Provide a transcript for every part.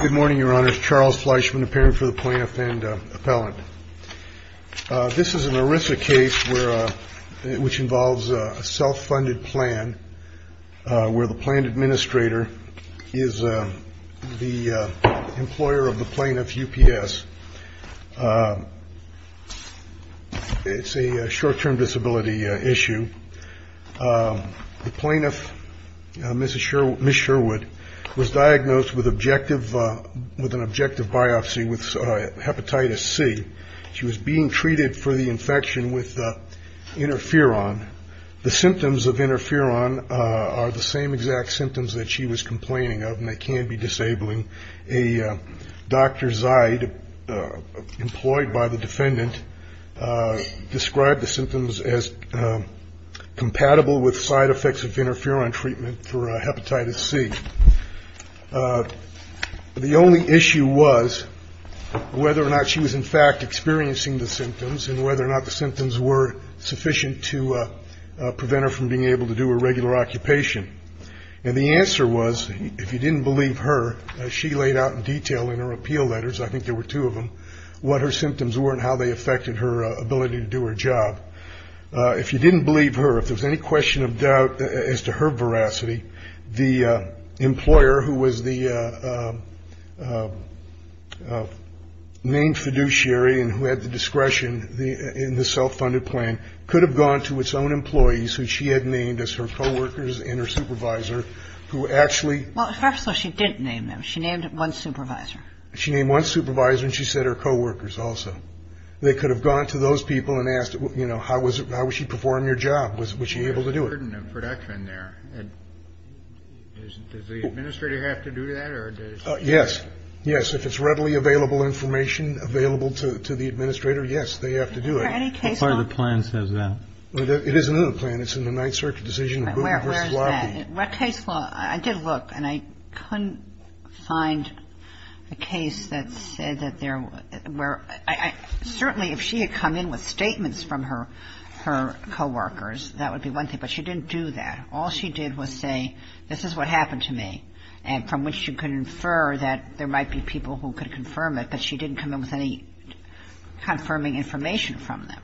Good morning, your honors. Charles Fleischman, appearing for the Plaintiff and Appellant. This is an ERISA case which involves a self-funded plan where the Planned Administrator is the employer of the Plaintiff's UPS. It's a short-term disability issue. The Plaintiff, Ms. Sherwood, was diagnosed with an objective biopsy with Hepatitis C. She was being treated for the infection with Interferon. The symptoms of Interferon are the same exact symptoms that she was complaining of, and they can't be disabling. A Dr. Zide, employed by the defendant, described the symptoms as compatible with side effects of Interferon treatment for Hepatitis C. The only issue was whether or not she was, in fact, experiencing the symptoms, and whether or not the symptoms were sufficient to prevent her from being able to do a regular occupation. And the answer was, if you didn't believe her, she laid out in detail in her appeal letters, I think there were two of them, what her symptoms were and how they affected her ability to do her job. If you didn't believe her, if there was any question of doubt as to her veracity, the employer who was the named fiduciary and who had the discretion in the self-funded plan could have gone to its own employees, who she had named as her co-workers and her supervisor, who actually. Well, perhaps she didn't name them. She named one supervisor. She named one supervisor, and she said her co-workers also. They could have gone to those people and asked, you know, how was she performing her job? Was she able to do it? There's a burden of production there. Does the administrator have to do that? Yes. Yes. If it's readily available information available to the administrator, yes, they have to do it. I don't know if there's any case law. What part of the plan says that? It is in the plan. It's in the Ninth Circuit decision. Where is that? What case law? I did look, and I couldn't find a case that said that there were. Certainly, if she had come in with statements from her co-workers, that would be one thing. But she didn't do that. All she did was say, this is what happened to me, and from which she could infer that there might be people who could confirm it. But she didn't come in with any confirming information from them.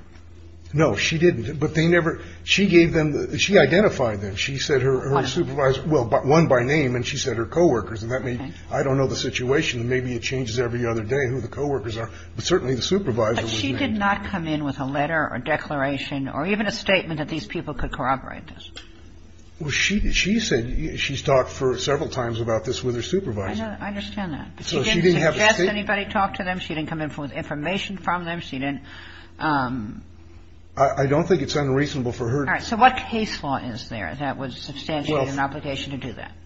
No, she didn't. But they never – she gave them – she identified them. She said her supervisor – well, one by name, and she said her co-workers. And that made – I don't know the situation. Maybe it changes every other day who the co-workers are. But certainly the supervisor was named. But she did not come in with a letter or declaration or even a statement that these people could corroborate this. Well, she said she's talked for several times about this with her supervisor. I know. But she didn't suggest anybody talk to them. She didn't come in with information from them. She didn't – I don't think it's unreasonable for her to – All right. So what case law is there that would substantiate an obligation to do that? Well,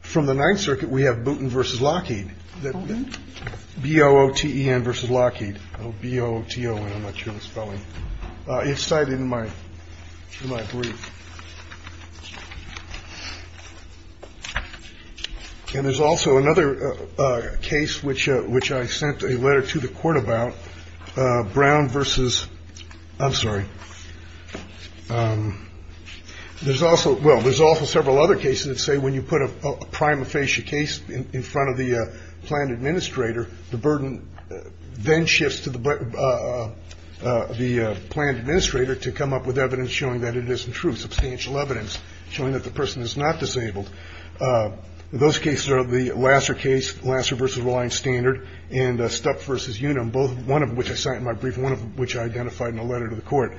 from the Ninth Circuit, we have Booten v. Lockheed. Booten? B-O-O-T-E-N v. Lockheed. B-O-O-T-O-N. I'm not sure of the spelling. It's cited in my brief. And there's also another case which – which I sent a letter to the court about. Brown versus – I'm sorry. There's also – well, there's also several other cases that say when you put a prima facie case in front of the planned administrator, the burden then shifts to the – the planned administrator to come up with evidence showing that it isn't true, substantial evidence showing that the person is not disabled. Those cases are the Lasser case, Lasser v. Rawlings-Standard, and Stuck v. Unum, both one of which I cite in my brief and one of which I identified in a letter to the court.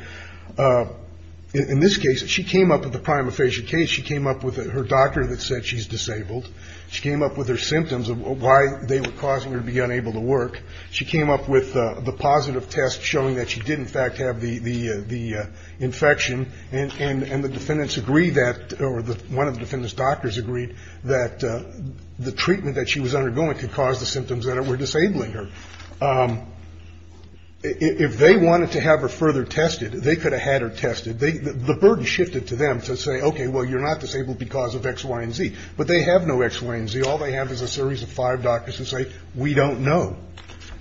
In this case, she came up with a prima facie case. She came up with her doctor that said she's disabled. She came up with her symptoms of why they were causing her to be unable to work. She came up with the positive test showing that she did, in fact, have the infection. And the defendants agreed that – or one of the defendants' doctors agreed that the treatment that she was undergoing could cause the symptoms that were disabling her. If they wanted to have her further tested, they could have had her tested. The burden shifted to them to say, okay, well, you're not disabled because of X, Y, and Z. But they have no X, Y, and Z. All they have is a series of five doctors who say, we don't know.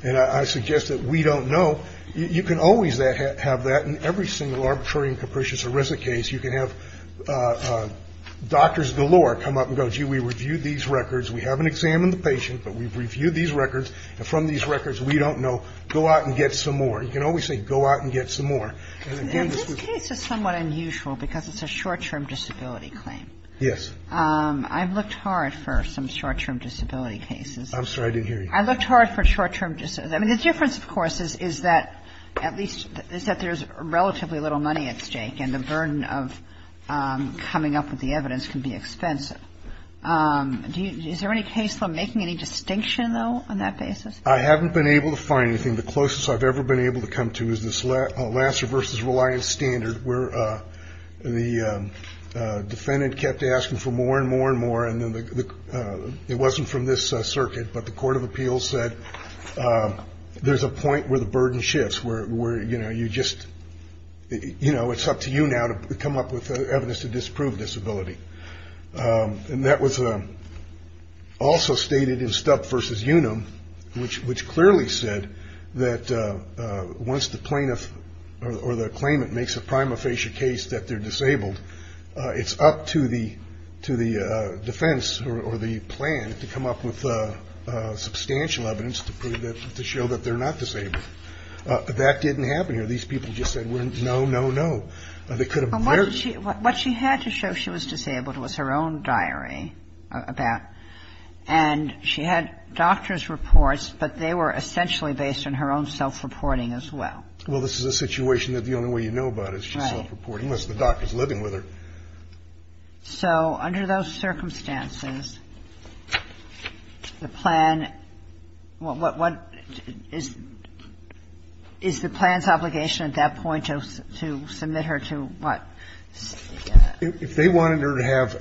And I suggest that we don't know. You can always have that in every single arbitrary and capricious ERISA case. You can have doctors galore come up and go, gee, we reviewed these records. We haven't examined the patient, but we've reviewed these records. And from these records, we don't know. Go out and get some more. You can always say, go out and get some more. And again, this was – Yes. I've looked hard for some short-term disability cases. I'm sorry. I didn't hear you. I looked hard for short-term – I mean, the difference, of course, is that at least – is that there's relatively little money at stake, and the burden of coming up with the evidence can be expensive. Is there any case where I'm making any distinction, though, on that basis? I haven't been able to find anything. The closest I've ever been able to come to is this Lasser versus Reliance standard, where the defendant kept asking for more and more and more, and it wasn't from this circuit, but the court of appeals said there's a point where the burden shifts, where, you know, you just – you know, it's up to you now to come up with evidence to disprove disability. And that was also stated in Stubb versus Unum, which clearly said that once the plaintiff or the claimant makes a prima facie case that they're disabled, it's up to the defense or the plan to come up with substantial evidence to prove that – to show that they're not disabled. That didn't happen here. These people just said, no, no, no. They could have very – What she had to show she was disabled was her own diary about – and she had doctor's reports, but they were essentially based on her own self-reporting as well. Well, this is a situation that the only way you know about is she's self-reporting, unless the doctor's living with her. Right. So under those circumstances, the plan – what – is the plan's obligation at that point to submit her to what? If they wanted her to have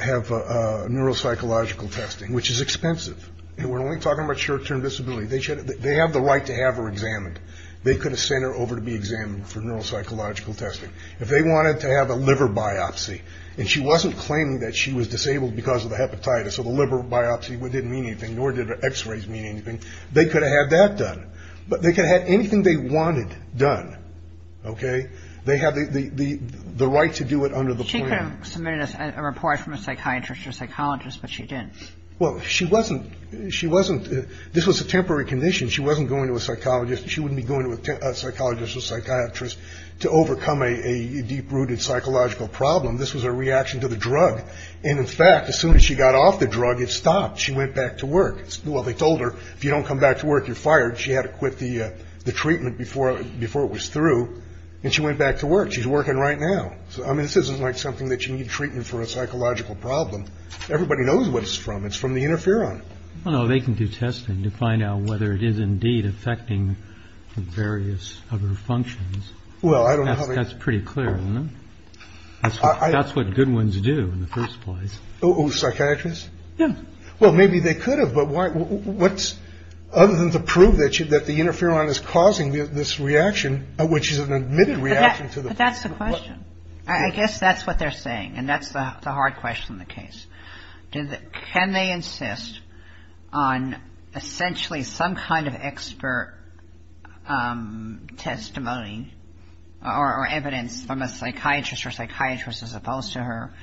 neuropsychological testing, which is expensive, and we're only talking about short-term disability, they have the right to have her examined. They could have sent her over to be examined for neuropsychological testing. If they wanted to have a liver biopsy and she wasn't claiming that she was disabled because of the hepatitis or the liver biopsy didn't mean anything, nor did her x-rays mean anything, they could have had that done. But they could have had anything they wanted done. Okay? They have the right to do it under the plan. She could have submitted a report from a psychiatrist or psychologist, but she didn't. Well, she wasn't – she wasn't – this was a temporary condition. She wasn't going to a psychologist. She wouldn't be going to a psychologist or psychiatrist to overcome a deep-rooted psychological problem. This was a reaction to the drug. And, in fact, as soon as she got off the drug, it stopped. She went back to work. Well, they told her, if you don't come back to work, you're fired. She had to quit the treatment before it was through, and she went back to work. She's working right now. So, I mean, this isn't like something that you need treatment for a psychological problem. Everybody knows what it's from. It's from the interferon. Well, no, they can do testing to find out whether it is indeed affecting the various other functions. Well, I don't know how they – That's pretty clear, isn't it? That's what good ones do in the first place. Oh, psychiatrists? Yeah. Well, maybe they could have, but why – what's – other than to prove that the interferon is causing this reaction, which is an admitted reaction to the – But that's the question. I guess that's what they're saying, and that's the hard question in the case. Can they insist on essentially some kind of expert testimony or evidence from a psychiatrist or psychiatrist as opposed to her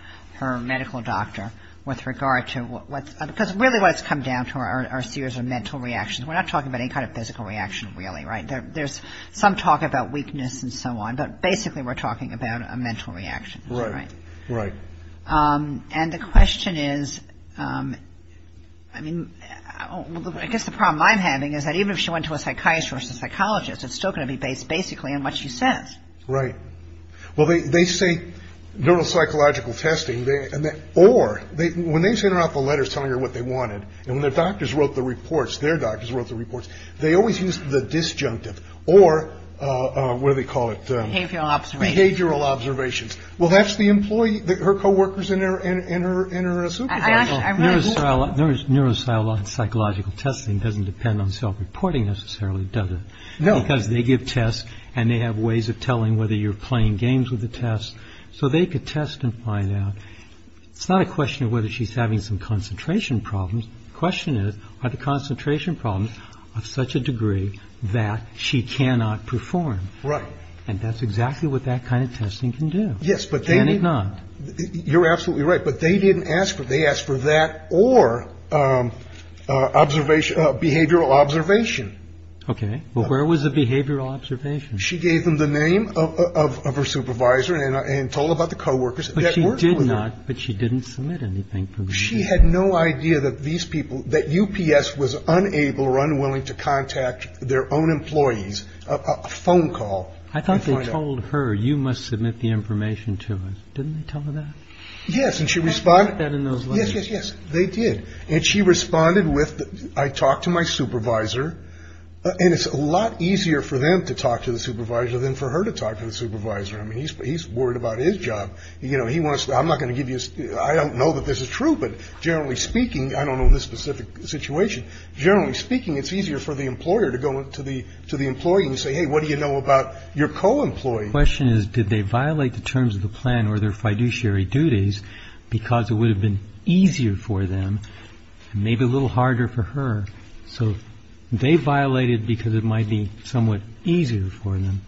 medical doctor with regard to what's – because really what's come down to are a series of mental reactions. We're not talking about any kind of physical reaction, really, right? There's some talk about weakness and so on, but basically we're talking about a mental reaction. Right. Right. And the question is – I mean, I guess the problem I'm having is that even if she went to a psychiatrist or a psychologist, it's still going to be based basically on what she says. Right. Well, they say neuropsychological testing, or when they send her out the letters telling her what they wanted, and when their doctors wrote the reports, their doctors wrote the reports, they always used the disjunctive or – what do they call it? Behavioral observations. Behavioral observations. Well, that's the employee – her co-workers and her supervisor. Well, neuropsychological testing doesn't depend on self-reporting necessarily, does it? No. Because they give tests and they have ways of telling whether you're playing games with the tests. So they could test and find out. It's not a question of whether she's having some concentration problems. The question is, are the concentration problems of such a degree that she cannot perform? Right. And that's exactly what that kind of testing can do. Yes, but they – And it's not. You're absolutely right. But they didn't ask for it. They asked for that or observation – behavioral observation. Okay. Well, where was the behavioral observation? She gave them the name of her supervisor and told them about the co-workers that worked with her. But she did not – but she didn't submit anything. She had no idea that these people – that UPS was unable or unwilling to contact their own employees, and that's where she got the information. And she got a phone call. I thought they told her, you must submit the information to us. Didn't they tell her that? Yes. And she responded – I got that in those letters. Yes, yes, yes. They did. And she responded with, I talked to my supervisor. And it's a lot easier for them to talk to the supervisor than for her to talk to the supervisor. I mean, he's worried about his job. You know, he wants – I'm not going to give you – I don't know that this is true. But generally speaking – I don't know this specific situation – generally speaking, it's easier for the employer to go to the employee and say, hey, what do you know about your co-employee? The question is, did they violate the terms of the plan or their fiduciary duties because it would have been easier for them and maybe a little harder for her? So they violated because it might be somewhat easier for them.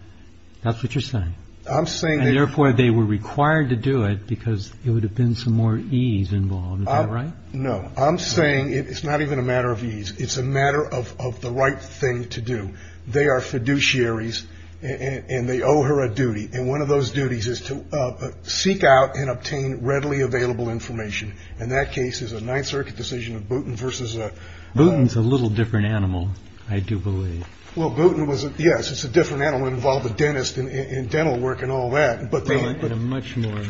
That's what you're saying. I'm saying – And therefore, they were required to do it because there would have been some more ease involved. Is that right? No. I'm saying it's not even a matter of ease. It's a matter of the right thing to do. They are fiduciaries, and they owe her a duty. And one of those duties is to seek out and obtain readily available information. And that case is a Ninth Circuit decision of Booten versus – Booten's a little different animal, I do believe. Well, Booten was – yes, it's a different animal. It involved a dentist and dental work and all that. And a much more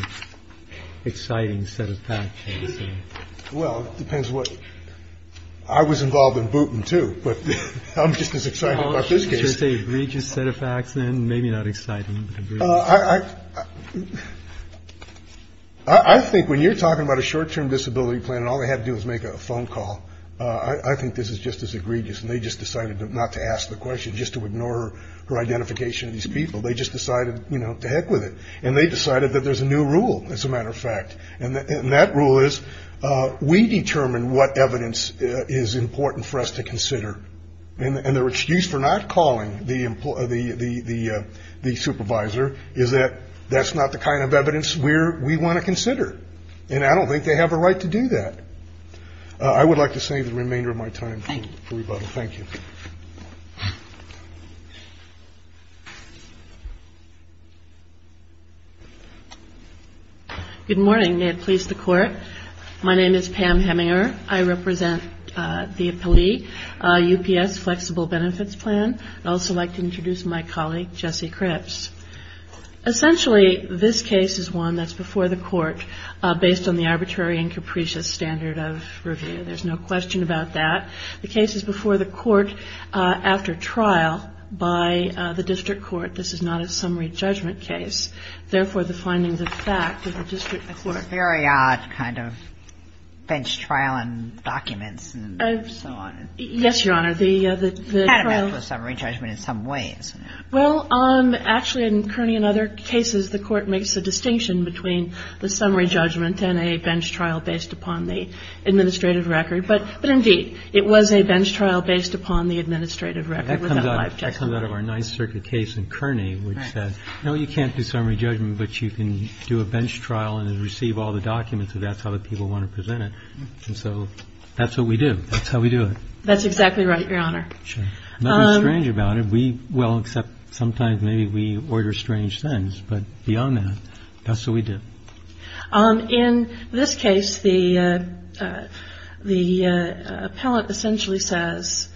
exciting set of facts. Well, it depends what – I was involved in Booten, too, but I'm just as excited about this case. Should I say egregious set of facts then? Maybe not exciting, but egregious. I think when you're talking about a short-term disability plan and all they have to do is make a phone call, I think this is just as egregious. And they just decided not to ask the question, just to ignore her identification of these people. They just decided, you know, to heck with it. And they decided that there's a new rule, as a matter of fact. And that rule is we determine what evidence is important for us to consider. And their excuse for not calling the supervisor is that that's not the kind of evidence we want to consider. And I don't think they have a right to do that. I would like to save the remainder of my time for rebuttal. Thank you. Good morning. May it please the Court. My name is Pam Heminger. I represent the appellee, UPS Flexible Benefits Plan. I'd also like to introduce my colleague, Jesse Cripps. Essentially, this case is one that's before the Court based on the arbitrary and capricious standard of review. There's no question about that. The case is before the Court after trial by the district court. This is not a summary judgment case. Therefore, the findings of fact of the district court. It's a very odd kind of bench trial in documents and so on. Yes, Your Honor. The trial of summary judgment in some ways. Well, actually, in Kerney and other cases, the Court makes a distinction between the summary judgment and a bench trial based upon the administrative record. But, indeed, it was a bench trial based upon the administrative record. That comes out of our Ninth Circuit case in Kerney, which said, no, you can't do summary judgment, but you can do a bench trial and receive all the documents if that's how the people want to present it. And so that's what we do. That's how we do it. That's exactly right, Your Honor. Sure. Nothing strange about it. We, well, except sometimes maybe we order strange things. But beyond that, that's what we do. In this case, the appellant essentially says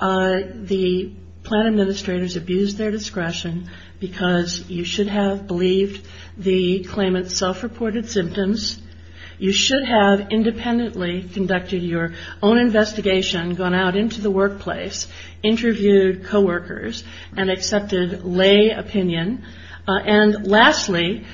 the plan administrators abused their discretion because you should have believed the claimant's self-reported symptoms. You should have independently conducted your own investigation, gone out into the workplace, interviewed co-workers, and accepted lay opinion. And, lastly,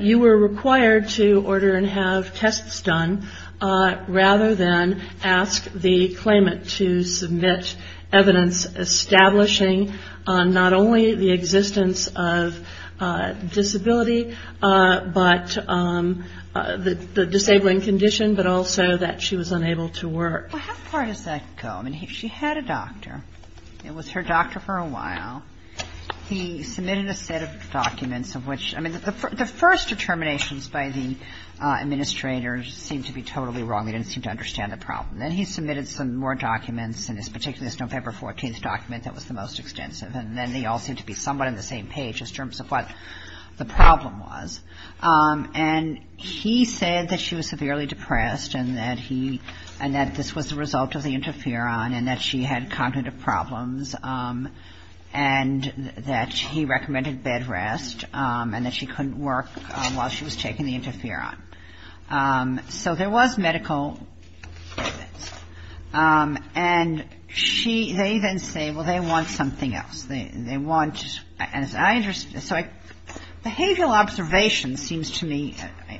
you were required to order and have tests done rather than ask the claimant to submit evidence establishing not only the existence of disability, but the disabling condition, but also that she was unable to work. Well, how far does that go? I mean, she had a doctor. It was her doctor for a while. He submitted a set of documents of which, I mean, the first determinations by the administrator seemed to be totally wrong. They didn't seem to understand the problem. Then he submitted some more documents, and particularly this November 14th document that was the most extensive. And then they all seemed to be somewhat on the same page in terms of what the problem was. And he said that she was severely depressed and that he, and that this was the result of the interferon and that she had cognitive problems and that he recommended bed rest and that she couldn't work while she was taking the interferon. So there was medical evidence. And she, they then say, well, they want something else. They want, as I understand, so behavioral observation seems to me,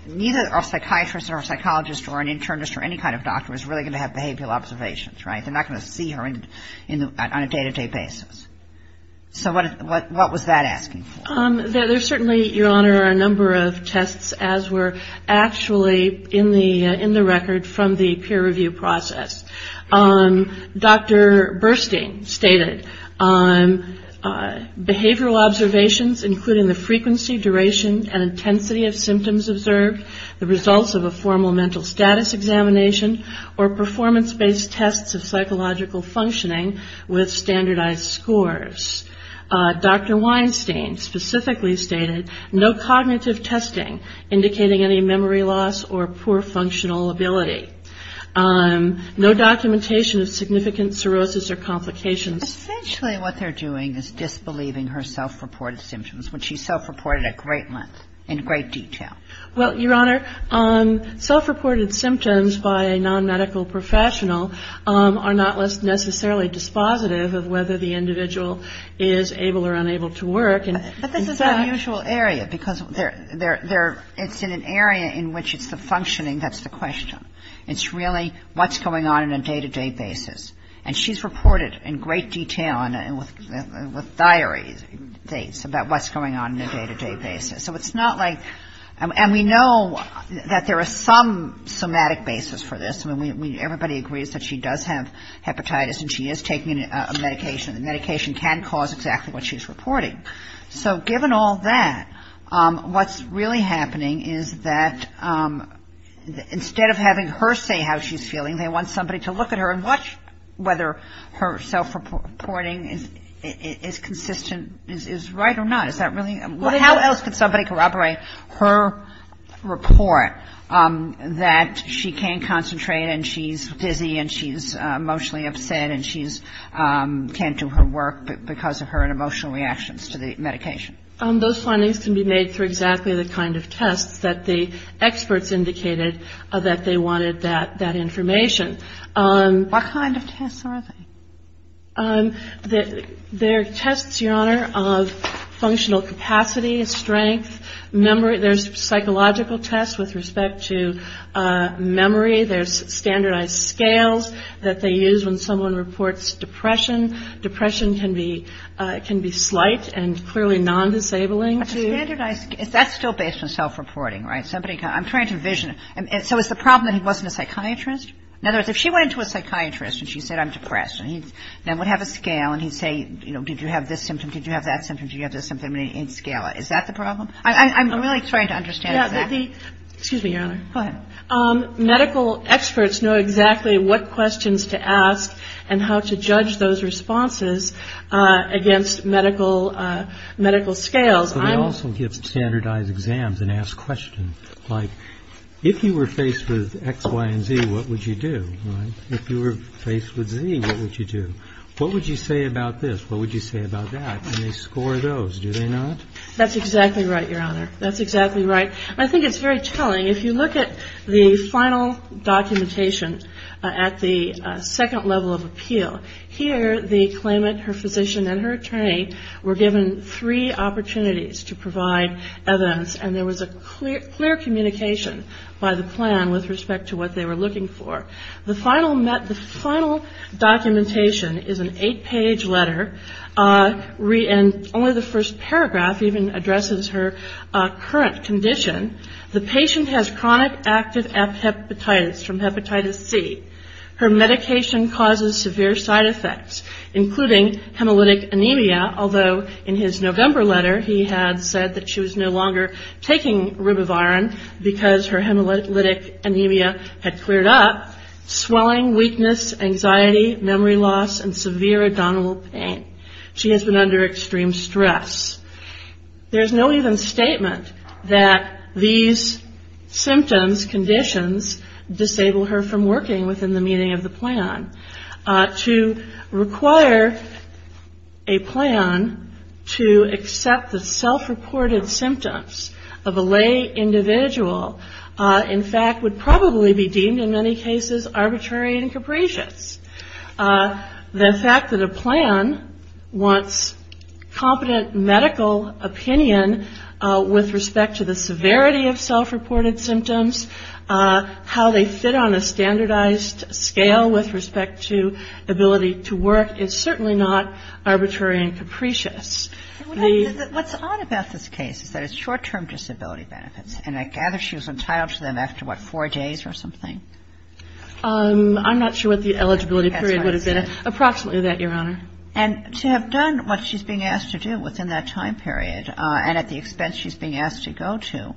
neither a psychiatrist or a psychologist or an internist or any kind of doctor is really going to have behavioral observations, right? They're not going to see her on a day-to-day basis. So what was that asking for? There's certainly, Your Honor, a number of tests as were actually in the record from the peer review process. Dr. Burstein stated behavioral observations including the frequency, duration, and intensity of symptoms observed, the results of a formal mental status examination or performance-based tests of psychological functioning with standardized scores. Dr. Weinstein specifically stated no cognitive testing indicating any memory loss or poor functional ability. No documentation of significant cirrhosis or complications. Essentially what they're doing is disbelieving her self-reported symptoms, which she self-reported a great length in great detail. Well, Your Honor, self-reported symptoms by a non-medical professional are not necessarily dispositive of whether the individual is able or unable to work. But this is an unusual area because it's in an area in which it's the functioning that's the question. It's really what's going on in a day-to-day basis. And she's reported in great detail and with diaries about what's going on in a day-to-day basis. So it's not like – and we know that there is some somatic basis for this. I mean, everybody agrees that she does have hepatitis and she is taking a medication. The medication can cause exactly what she's reporting. So given all that, what's really happening is that instead of having her say how she's feeling, they want somebody to look at her and watch whether her self-reporting is consistent, is right or not. Is that really – how else could somebody corroborate her report that she can't concentrate and she's dizzy and she's emotionally upset and she can't do her work because of her emotional reactions to the medication? Those findings can be made through exactly the kind of tests that the experts indicated that they wanted that information. What kind of tests are they? They're tests, Your Honor, of functional capacity, strength, memory. There's psychological tests with respect to memory. There's standardized scales that they use when someone reports depression. Depression can be slight and clearly non-disabling. A standardized – that's still based on self-reporting, right? Somebody – I'm trying to envision it. So is the problem that he wasn't a psychiatrist? In other words, if she went into a psychiatrist and she said I'm depressed and he would have a scale and he'd say, you know, did you have this symptom? Did you have that symptom? Did you have this symptom? And he'd scale it. Is that the problem? I'm really trying to understand that. Excuse me, Your Honor. Go ahead. Medical experts know exactly what questions to ask and how to judge those responses against medical scales. But they also give standardized exams and ask questions. Like if you were faced with X, Y, and Z, what would you do, right? If you were faced with Z, what would you do? What would you say about this? What would you say about that? And they score those, do they not? That's exactly right, Your Honor. That's exactly right. I think it's very telling. If you look at the final documentation at the second level of appeal, here the claimant, her physician, and her attorney were given three opportunities to provide evidence, and there was a clear communication by the plan with respect to what they were looking for. The final documentation is an eight-page letter, and only the first paragraph even addresses her current condition. The patient has chronic active hepatitis from hepatitis C. Her medication causes severe side effects, including hemolytic anemia, although in his November letter he had said that she was no longer taking ribavirin because her hemolytic anemia had cleared up, swelling, weakness, anxiety, memory loss, and severe abdominal pain. She has been under extreme stress. There's no even statement that these symptoms, conditions, disable her from working within the meaning of the plan. To require a plan to accept the self-reported symptoms of a lay individual, in fact would probably be deemed in many cases arbitrary and capricious. The fact that a plan wants competent medical opinion with respect to the severity of self-reported symptoms, how they fit on a standardized scale with respect to ability to work, is certainly not arbitrary and capricious. What's odd about this case is that it's short-term disability benefits, and I gather she was entitled to them after, what, four days or something? I'm not sure what the eligibility period would have been. Approximately that, Your Honor. And to have done what she's being asked to do within that time period, and at the expense she's being asked to go to,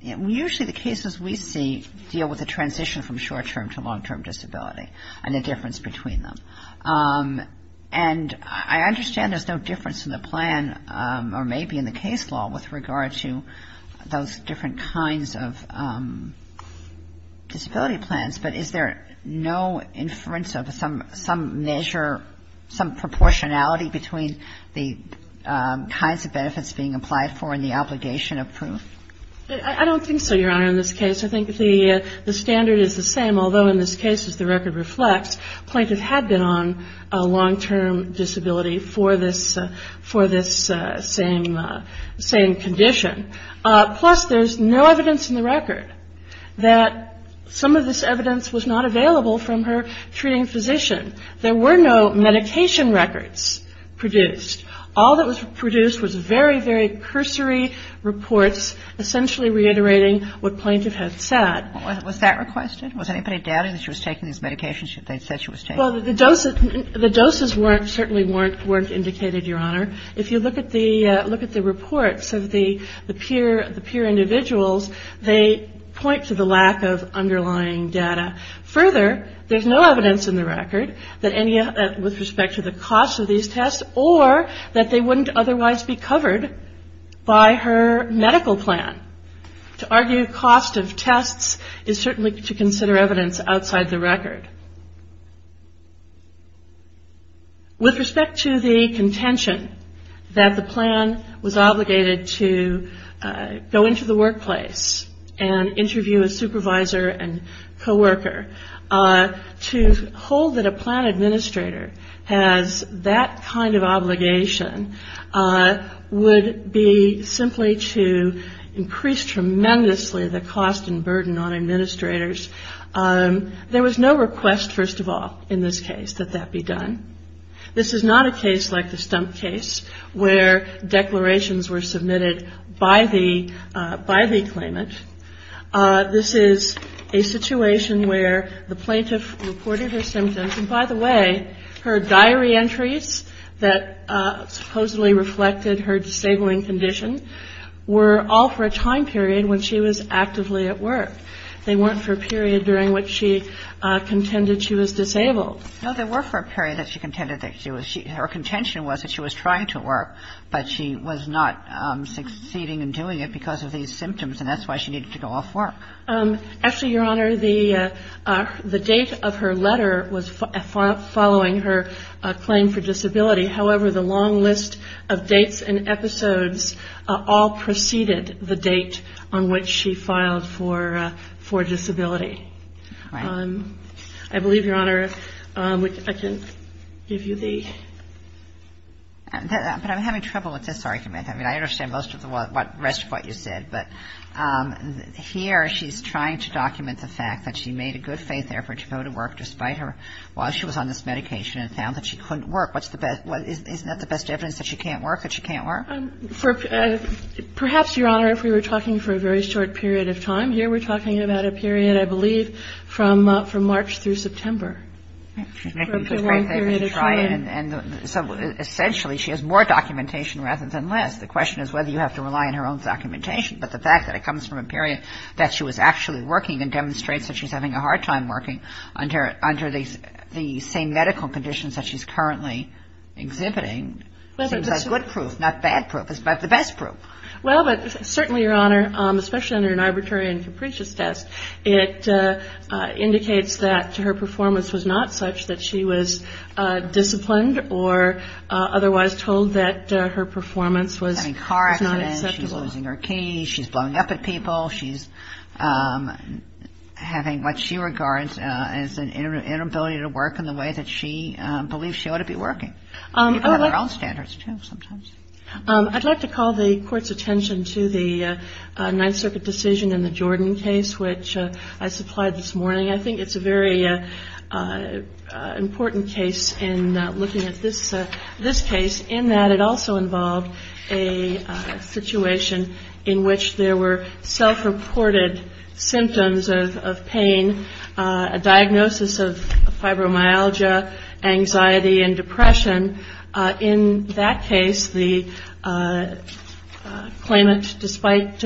usually the cases we see deal with a transition from short-term to long-term disability and the difference between them. And I understand there's no difference in the plan, or maybe in the case law, with regard to those different kinds of disability plans, but is there no inference of some measure, some proportionality between the kinds of benefits being applied for and the obligation of proof? I don't think so, Your Honor, in this case. I think the standard is the same, although in this case, as the record reflects, plaintiff had been on a long-term disability for this same condition. Plus, there's no evidence in the record that some of this evidence was not available from her treating physician. There were no medication records produced. All that was produced was very, very cursory reports essentially reiterating what plaintiff had said. Was that requested? Was anybody doubting that she was taking these medications that they said she was taking? Well, the doses certainly weren't indicated, Your Honor. If you look at the reports of the peer individuals, they point to the lack of underlying data. Further, there's no evidence in the record with respect to the cost of these tests or that they wouldn't otherwise be covered by her medical plan. To argue cost of tests is certainly to consider evidence outside the record. With respect to the contention that the plan was obligated to go into the workplace and interview a supervisor and coworker, to hold that a plan administrator has that kind of obligation would be simply to increase tremendously the cost and burden on administrators. There was no request, first of all, in this case, that that be done. This is not a case like the stump case where declarations were submitted by the claimant. This is a situation where the plaintiff reported her symptoms. And by the way, her diary entries that supposedly reflected her disabling condition were all for a time period when she was actively at work. They weren't for a period during which she contended she was disabled. No, they were for a period that she contended that she was ‑‑ her contention was that she was trying to work, but she was not succeeding in doing it because of these symptoms, and that's why she needed to go off work. Actually, Your Honor, the date of her letter was following her claim for disability. I believe, Your Honor, I can give you the ‑‑ But I'm having trouble with this argument. I mean, I understand most of the rest of what you said, but here she's trying to document the fact that she made a good faith effort to go to work despite her ‑‑ while she was on this medication and found that she couldn't work. Isn't that the best evidence that she can't work, that she can't work? Perhaps, Your Honor, if we were talking for a very short period of time, here we're talking about a period, I believe, from March through September. A pretty long period of time. Essentially, she has more documentation rather than less. The question is whether you have to rely on her own documentation, but the fact that it comes from a period that she was actually working and demonstrates that she's having a hard time working under the same medical conditions that she's currently exhibiting seems like good proof, not bad proof. It's the best proof. Well, but certainly, Your Honor, especially under an arbitrary and capricious test, it indicates that her performance was not such that she was disciplined or otherwise told that her performance was not acceptable. Having a car accident, she's losing her keys, she's blowing up at people, she's having what she regards as an inability to work in the way that she believes she ought to be working. People have their own standards, too, sometimes. I'd like to call the Court's attention to the Ninth Circuit decision in the Jordan case, which I supplied this morning. I think it's a very important case in looking at this case in that it also involved a situation in which there were self-reported symptoms of pain, a diagnosis of fibromyalgia, anxiety, and depression. In that case, the claimant, despite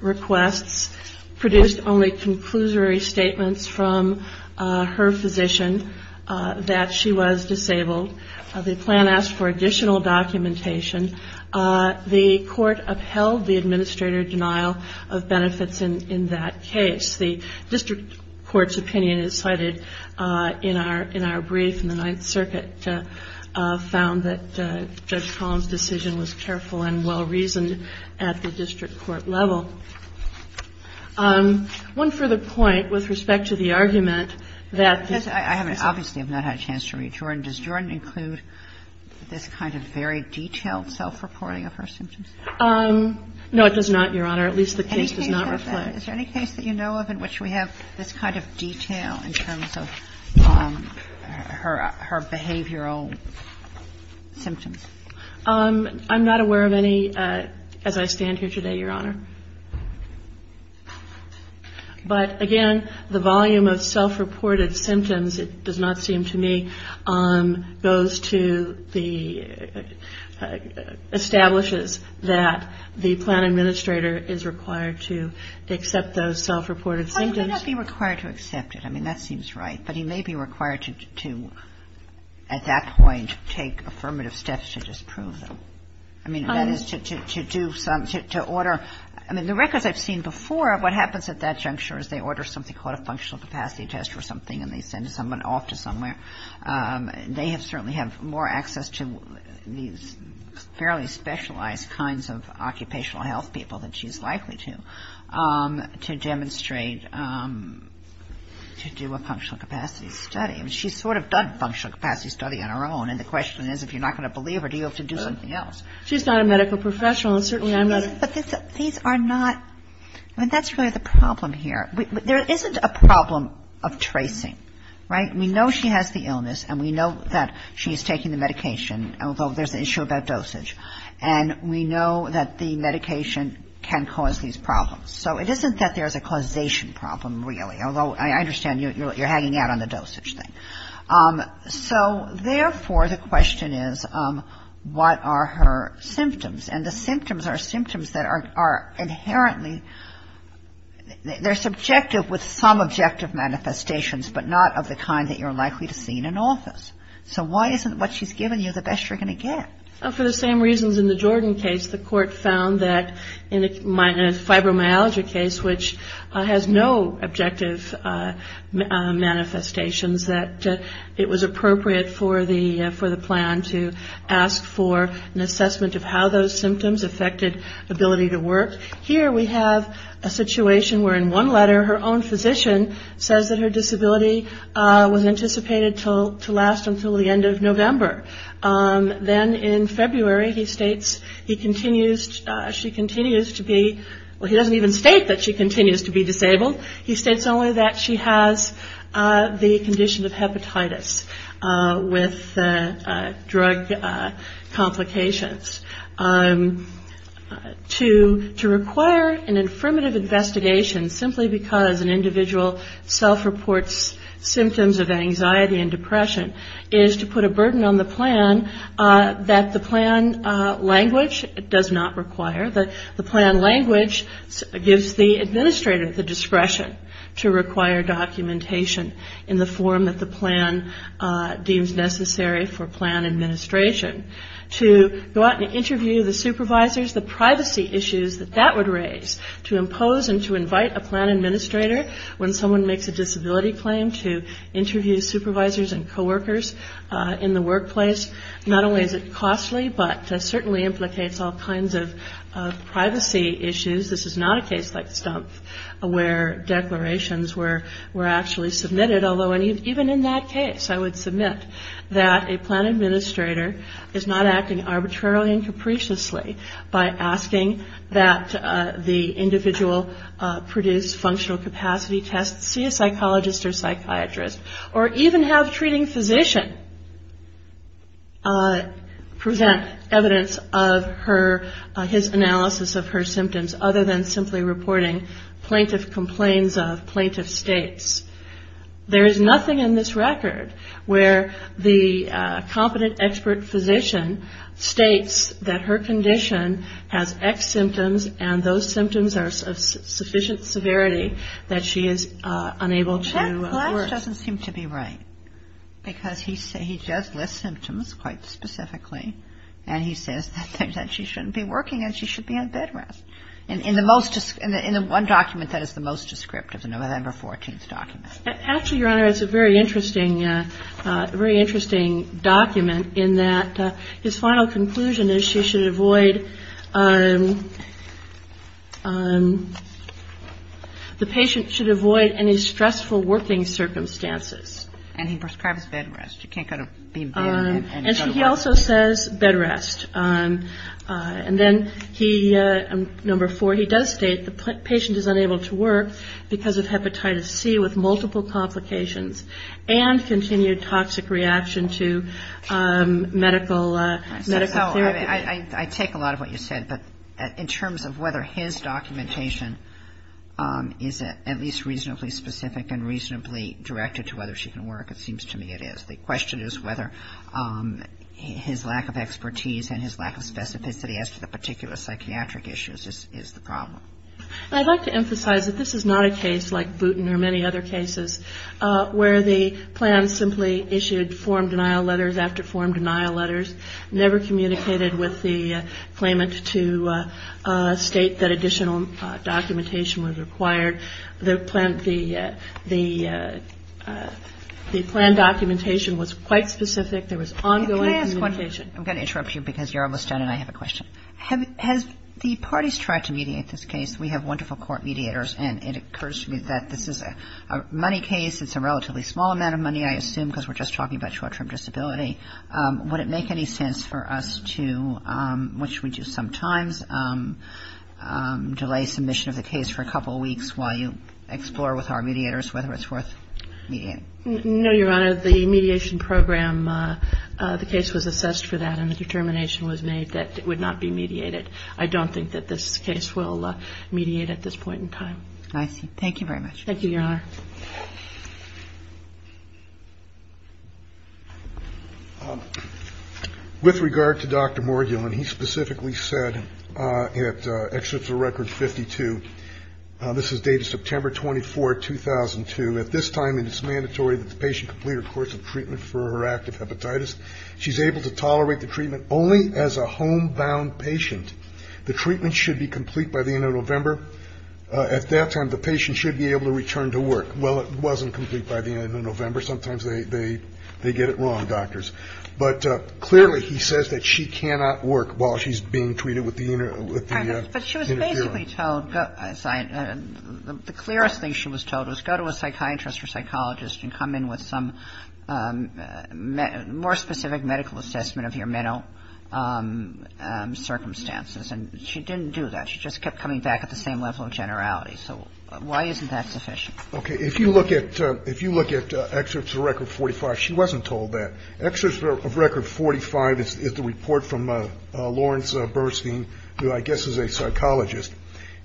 requests, produced only conclusory statements from her physician that she was disabled. The plan asked for additional documentation. The Court upheld the administrator's denial of benefits in that case. The district court's opinion, as cited in our brief in the Ninth Circuit, found that Judge Collins' decision was careful and well-reasoned at the district court level. One further point with respect to the argument that the ---- Kagan. Obviously, I have not had a chance to read Jordan. Does Jordan include this kind of very detailed self-reporting of her symptoms? No, it does not, Your Honor. At least the case does not reflect that. Is there any case that you know of in which we have this kind of detail in terms of her behavioral symptoms? I'm not aware of any as I stand here today, Your Honor. But, again, the volume of self-reported symptoms, it does not seem to me, goes to the ---- establishes that the plan administrator is required to accept those self-reported symptoms. Well, he may not be required to accept it. I mean, that seems right. But he may be required to, at that point, take affirmative steps to disprove them. I mean, that is to do some ---- to order ---- I mean, the records I've seen before, what happens at that juncture is they order something called a functional capacity test or something and they send someone off to somewhere. They certainly have more access to these fairly specialized kinds of occupational health people than she's likely to, to demonstrate, to do a functional capacity study. I mean, she's sort of done a functional capacity study on her own, and the question is if you're not going to believe her, do you have to do something else? She's not a medical professional, and certainly I'm not. But these are not ---- I mean, that's really the problem here. There isn't a problem of tracing, right? We know she has the illness, and we know that she's taking the medication, although there's an issue about dosage. And we know that the medication can cause these problems. So it isn't that there's a causation problem, really, although I understand you're hanging out on the dosage thing. So, therefore, the question is what are her symptoms? And the symptoms are symptoms that are inherently ---- they're subjective with some objective manifestations, but not of the kind that you're likely to see in an office. So why isn't what she's given you the best you're going to get? For the same reasons in the Jordan case, the court found that in a fibromyalgia case, which has no objective manifestations, that it was appropriate for the plan to ask for an assessment of how those symptoms affected ability to work. Here we have a situation where, in one letter, her own physician says that her disability was anticipated to last until the end of November. Then, in February, he states she continues to be ---- well, he doesn't even state that she continues to be disabled. He states only that she has the condition of hepatitis with drug complications. To require an affirmative investigation, simply because an individual self-reports symptoms of anxiety and depression, is to put a burden on the plan that the plan language does not require. The plan language gives the administrator the discretion to require documentation in the form that the plan deems necessary for plan administration. To go out and interview the supervisors, the privacy issues that that would raise to impose and to invite a plan administrator when someone makes a disability claim to interview supervisors and coworkers in the workplace, not only is it costly, but certainly implicates all kinds of privacy issues. This is not a case like Stumpf, where declarations were actually submitted. Although, even in that case, I would submit that a plan administrator is not acting arbitrarily and capriciously by asking that the individual produce functional capacity tests, see a psychologist or psychiatrist, or even have a treating physician present evidence of his analysis of her symptoms, other than simply reporting plaintiff complaints of plaintiff states. There is nothing in this record where the competent expert physician states that her condition has X symptoms and those symptoms are of sufficient severity that she is unable to work. And that doesn't seem to be right because he does list symptoms quite specifically and he says that she shouldn't be working and she should be on bed rest. In the one document that is the most descriptive, the November 14th document. Actually, Your Honor, it's a very interesting document in that his final conclusion is she should avoid the patient should avoid any stressful working circumstances. And he prescribes bed rest. You can't go to bed and go to work. And he also says bed rest. And then he, number four, he does state the patient is unable to work because of hepatitis C with multiple complications and continued toxic reaction to medical therapy. I take a lot of what you said. But in terms of whether his documentation is at least reasonably specific and reasonably directed to whether she can work, it seems to me it is. The question is whether his lack of expertise and his lack of specificity as to the particular psychiatric issues is the problem. I'd like to emphasize that this is not a case like Booten or many other cases where the plan simply issued form denial letters after form denial letters, never communicated with the claimant to state that additional documentation was required. The plan documentation was quite specific. There was ongoing communication. I'm going to interrupt you because you're almost done and I have a question. Has the parties tried to mediate this case? We have wonderful court mediators, and it occurs to me that this is a money case. It's a relatively small amount of money, I assume, because we're just talking about short-term disability. Would it make any sense for us to, which we do sometimes, delay submission of the case for a couple of weeks while you explore with our mediators whether it's worth mediating? No, Your Honor. The mediation program, the case was assessed for that and a determination was made that it would not be mediated. I don't think that this case will mediate at this point in time. I see. Thank you very much. Thank you, Your Honor. With regard to Dr. Morgulan, he specifically said at Excerpt of Record 52, this is dated September 24, 2002, at this time it is mandatory that the patient complete her course of treatment for her active hepatitis. She's able to tolerate the treatment only as a homebound patient. The treatment should be complete by the end of November. At that time, the patient should be able to return to work. Well, it wasn't complete by the end of November. Sometimes they get it wrong, doctors. But clearly he says that she cannot work while she's being treated with the interferon. But she was basically told, the clearest thing she was told was go to a psychiatrist or psychologist and come in with some more specific medical assessment of your mental circumstances. And she didn't do that. She just kept coming back at the same level of generality. So why isn't that sufficient? Okay. If you look at Excerpt of Record 45, she wasn't told that. Excerpt of Record 45 is the report from Lawrence Burstein, who I guess is a psychologist.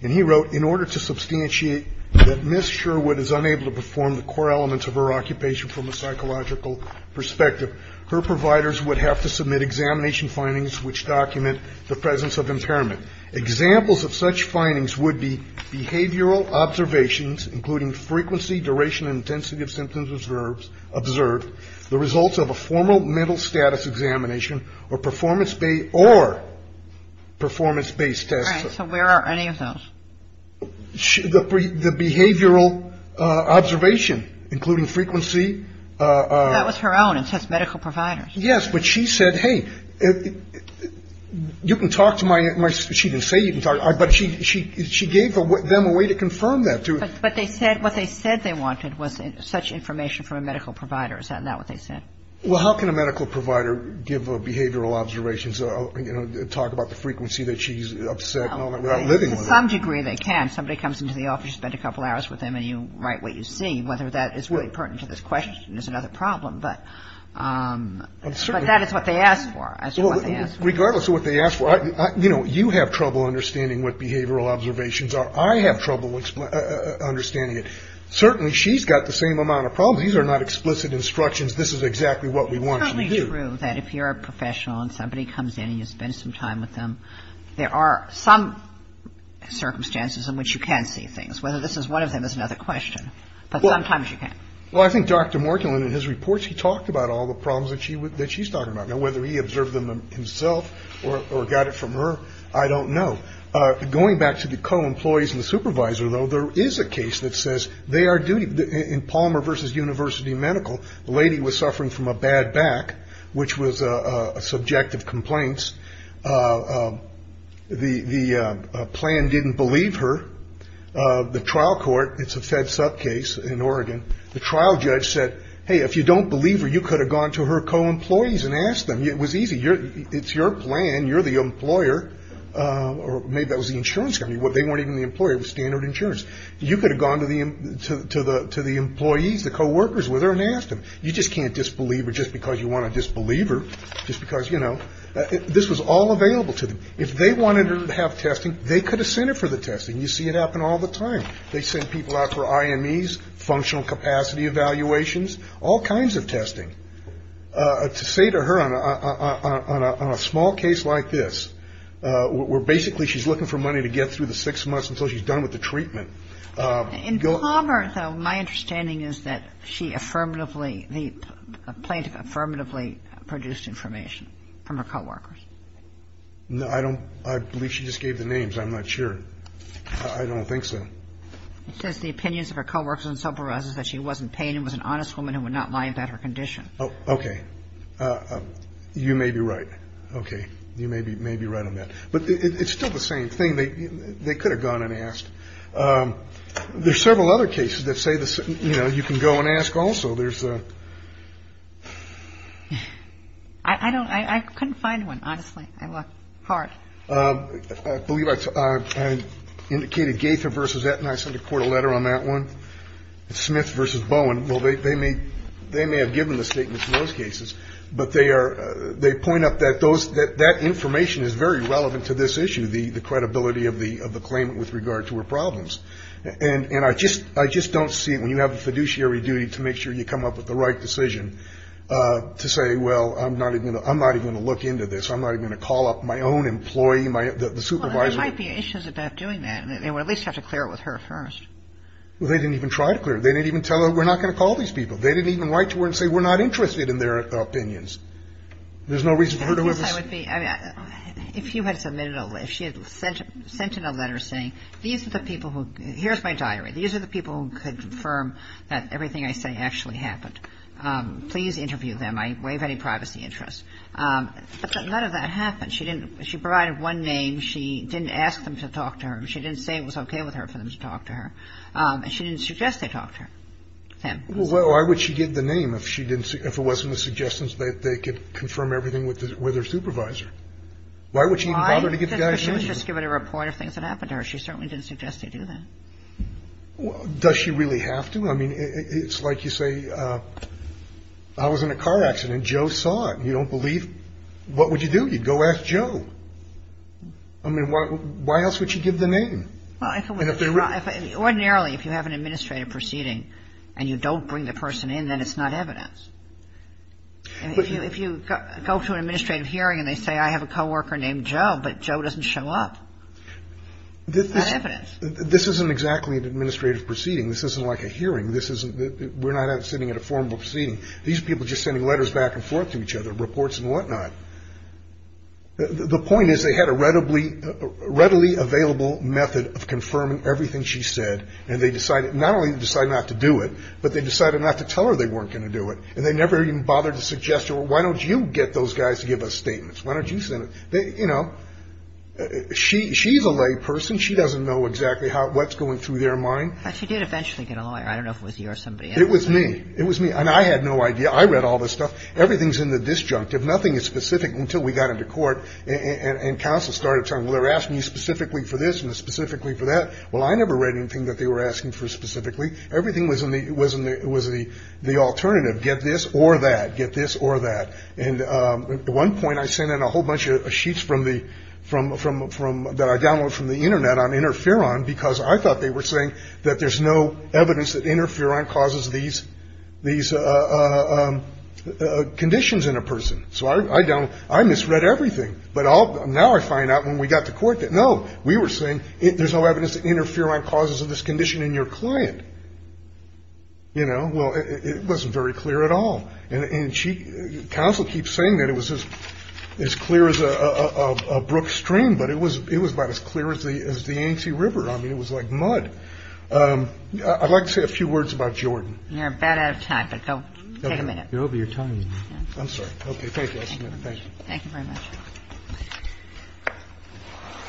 And he wrote, In order to substantiate that Ms. Sherwood is unable to perform the core elements of her occupation from a psychological perspective, her providers would have to submit examination findings which document the presence of impairment. Examples of such findings would be behavioral observations, including frequency, duration, and intensity of symptoms observed, the results of a formal mental status examination, or performance-based tests. All right. So where are any of those? The behavioral observation, including frequency. That was her own. It says medical providers. Yes. But she said, hey, you can talk to my ‑‑ she didn't say you can talk, but she gave them a way to confirm that. But what they said they wanted was such information from a medical provider. Is that not what they said? Well, how can a medical provider give behavioral observations, you know, talk about the frequency that she's upset and all that without living with it? To some degree they can. Somebody comes into the office, you spend a couple hours with them, and you write what you see. Whether that is really pertinent to this question is another problem. But that is what they asked for. Regardless of what they asked for. You know, you have trouble understanding what behavioral observations are. I have trouble understanding it. Certainly she's got the same amount of problems. These are not explicit instructions. This is exactly what we want you to do. It's totally true that if you're a professional and somebody comes in and you spend some time with them, there are some circumstances in which you can see things. Whether this is one of them is another question. But sometimes you can. Well, I think Dr. Morgan, in his reports, he talked about all the problems that she's talking about. Now, whether he observed them himself or got it from her, I don't know. Going back to the co-employees and the supervisor, though, there is a case that says they are duty. In Palmer versus University Medical, the lady was suffering from a bad back, which was subjective complaints. The plan didn't believe her. The trial court, it's a fed sub case in Oregon. The trial judge said, hey, if you don't believe her, you could have gone to her co-employees and asked them. It was easy. It's your plan. You're the employer. Maybe that was the insurance company. They weren't even the employer. It was standard insurance. You could have gone to the employees, the co-workers with her, and asked them. You just can't disbelieve her just because you want to disbelieve her, just because, you know. This was all available to them. If they wanted her to have testing, they could have sent her for the testing. You see it happen all the time. They send people out for IMEs, functional capacity evaluations, all kinds of testing. To say to her on a small case like this, where basically she's looking for money to get through the six months until she's done with the treatment. In Palmer, though, my understanding is that she affirmatively, the plaintiff affirmatively produced information from her co-workers. No, I don't. I believe she just gave the names. I'm not sure. I don't think so. It says the opinions of her co-workers and subordinates is that she wasn't paying and was an honest woman who would not lie about her condition. Oh, okay. You may be right. Okay. You may be right on that. But it's still the same thing. They could have gone and asked. There's several other cases that say, you know, you can go and ask also. There's a. I don't. I couldn't find one, honestly. I looked hard. I believe I indicated Gaither versus Aetna. I sent the court a letter on that one. Smith versus Bowen. Well, they may have given the statements in those cases, but they point out that that information is very relevant to this issue, the credibility of the claimant with regard to her problems. And I just don't see it when you have a fiduciary duty to make sure you come up with the right decision to say, well, I'm not even going to look into this. I'm not even going to call up my own employee, the supervisor. Well, there might be issues about doing that. They would at least have to clear it with her first. Well, they didn't even try to clear it. They didn't even tell her we're not going to call these people. They didn't even write to her and say we're not interested in their opinions. There's no reason for her to have. I guess I would be. If you had submitted a. If she had sent in a letter saying these are the people who. Here's my diary. These are the people who could confirm that everything I say actually happened. Please interview them. I have any privacy interests. None of that happened. She didn't. She provided one name. She didn't ask them to talk to her. She didn't say it was OK with her for them to talk to her. She didn't suggest they talk to him. Well, why would she give the name if she didn't see if it wasn't a suggestion that they could confirm everything with their supervisor? Why would she bother to get the guy? She was just given a report of things that happened to her. She certainly didn't suggest they do that. Does she really have to? I mean, it's like you say. I was in a car accident. Joe saw it. You don't believe. What would you do? You'd go ask Joe. I mean, why else would she give the name? Ordinarily, if you have an administrative proceeding and you don't bring the person in, then it's not evidence. If you go to an administrative hearing and they say I have a coworker named Joe, but Joe doesn't show up, it's not evidence. This isn't exactly an administrative proceeding. This isn't like a hearing. This isn't. We're not sitting at a formal proceeding. These people are just sending letters back and forth to each other, reports and whatnot. The point is they had a readily available method of confirming everything she said. And they decided not only to decide not to do it, but they decided not to tell her they weren't going to do it. And they never even bothered to suggest to her, well, why don't you get those guys to give us statements? Why don't you send them? You know, she's a layperson. She doesn't know exactly what's going through their mind. She did eventually get a lawyer. I don't know if it was you or somebody else. It was me. It was me. And I had no idea. I read all this stuff. Everything's in the disjunctive. Nothing is specific until we got into court and counsel started talking. Well, they're asking you specifically for this and specifically for that. Well, I never read anything that they were asking for specifically. Everything was in the alternative, get this or that, get this or that. And at one point I sent in a whole bunch of sheets from the – that I downloaded from the Internet on interferon because I thought they were saying that there's no evidence that interferon causes these conditions in a person. So I misread everything. But now I find out when we got to court that, no, we were saying there's no evidence that interferon causes this condition in your client. You know, well, it wasn't very clear at all. And counsel keeps saying that it was as clear as a brook stream, but it was about as clear as the Yancey River. I mean, it was like mud. I'd like to say a few words about Jordan. You're about out of time, but go take a minute. You're over your time. I'm sorry. Okay, thank you. Thank you very much.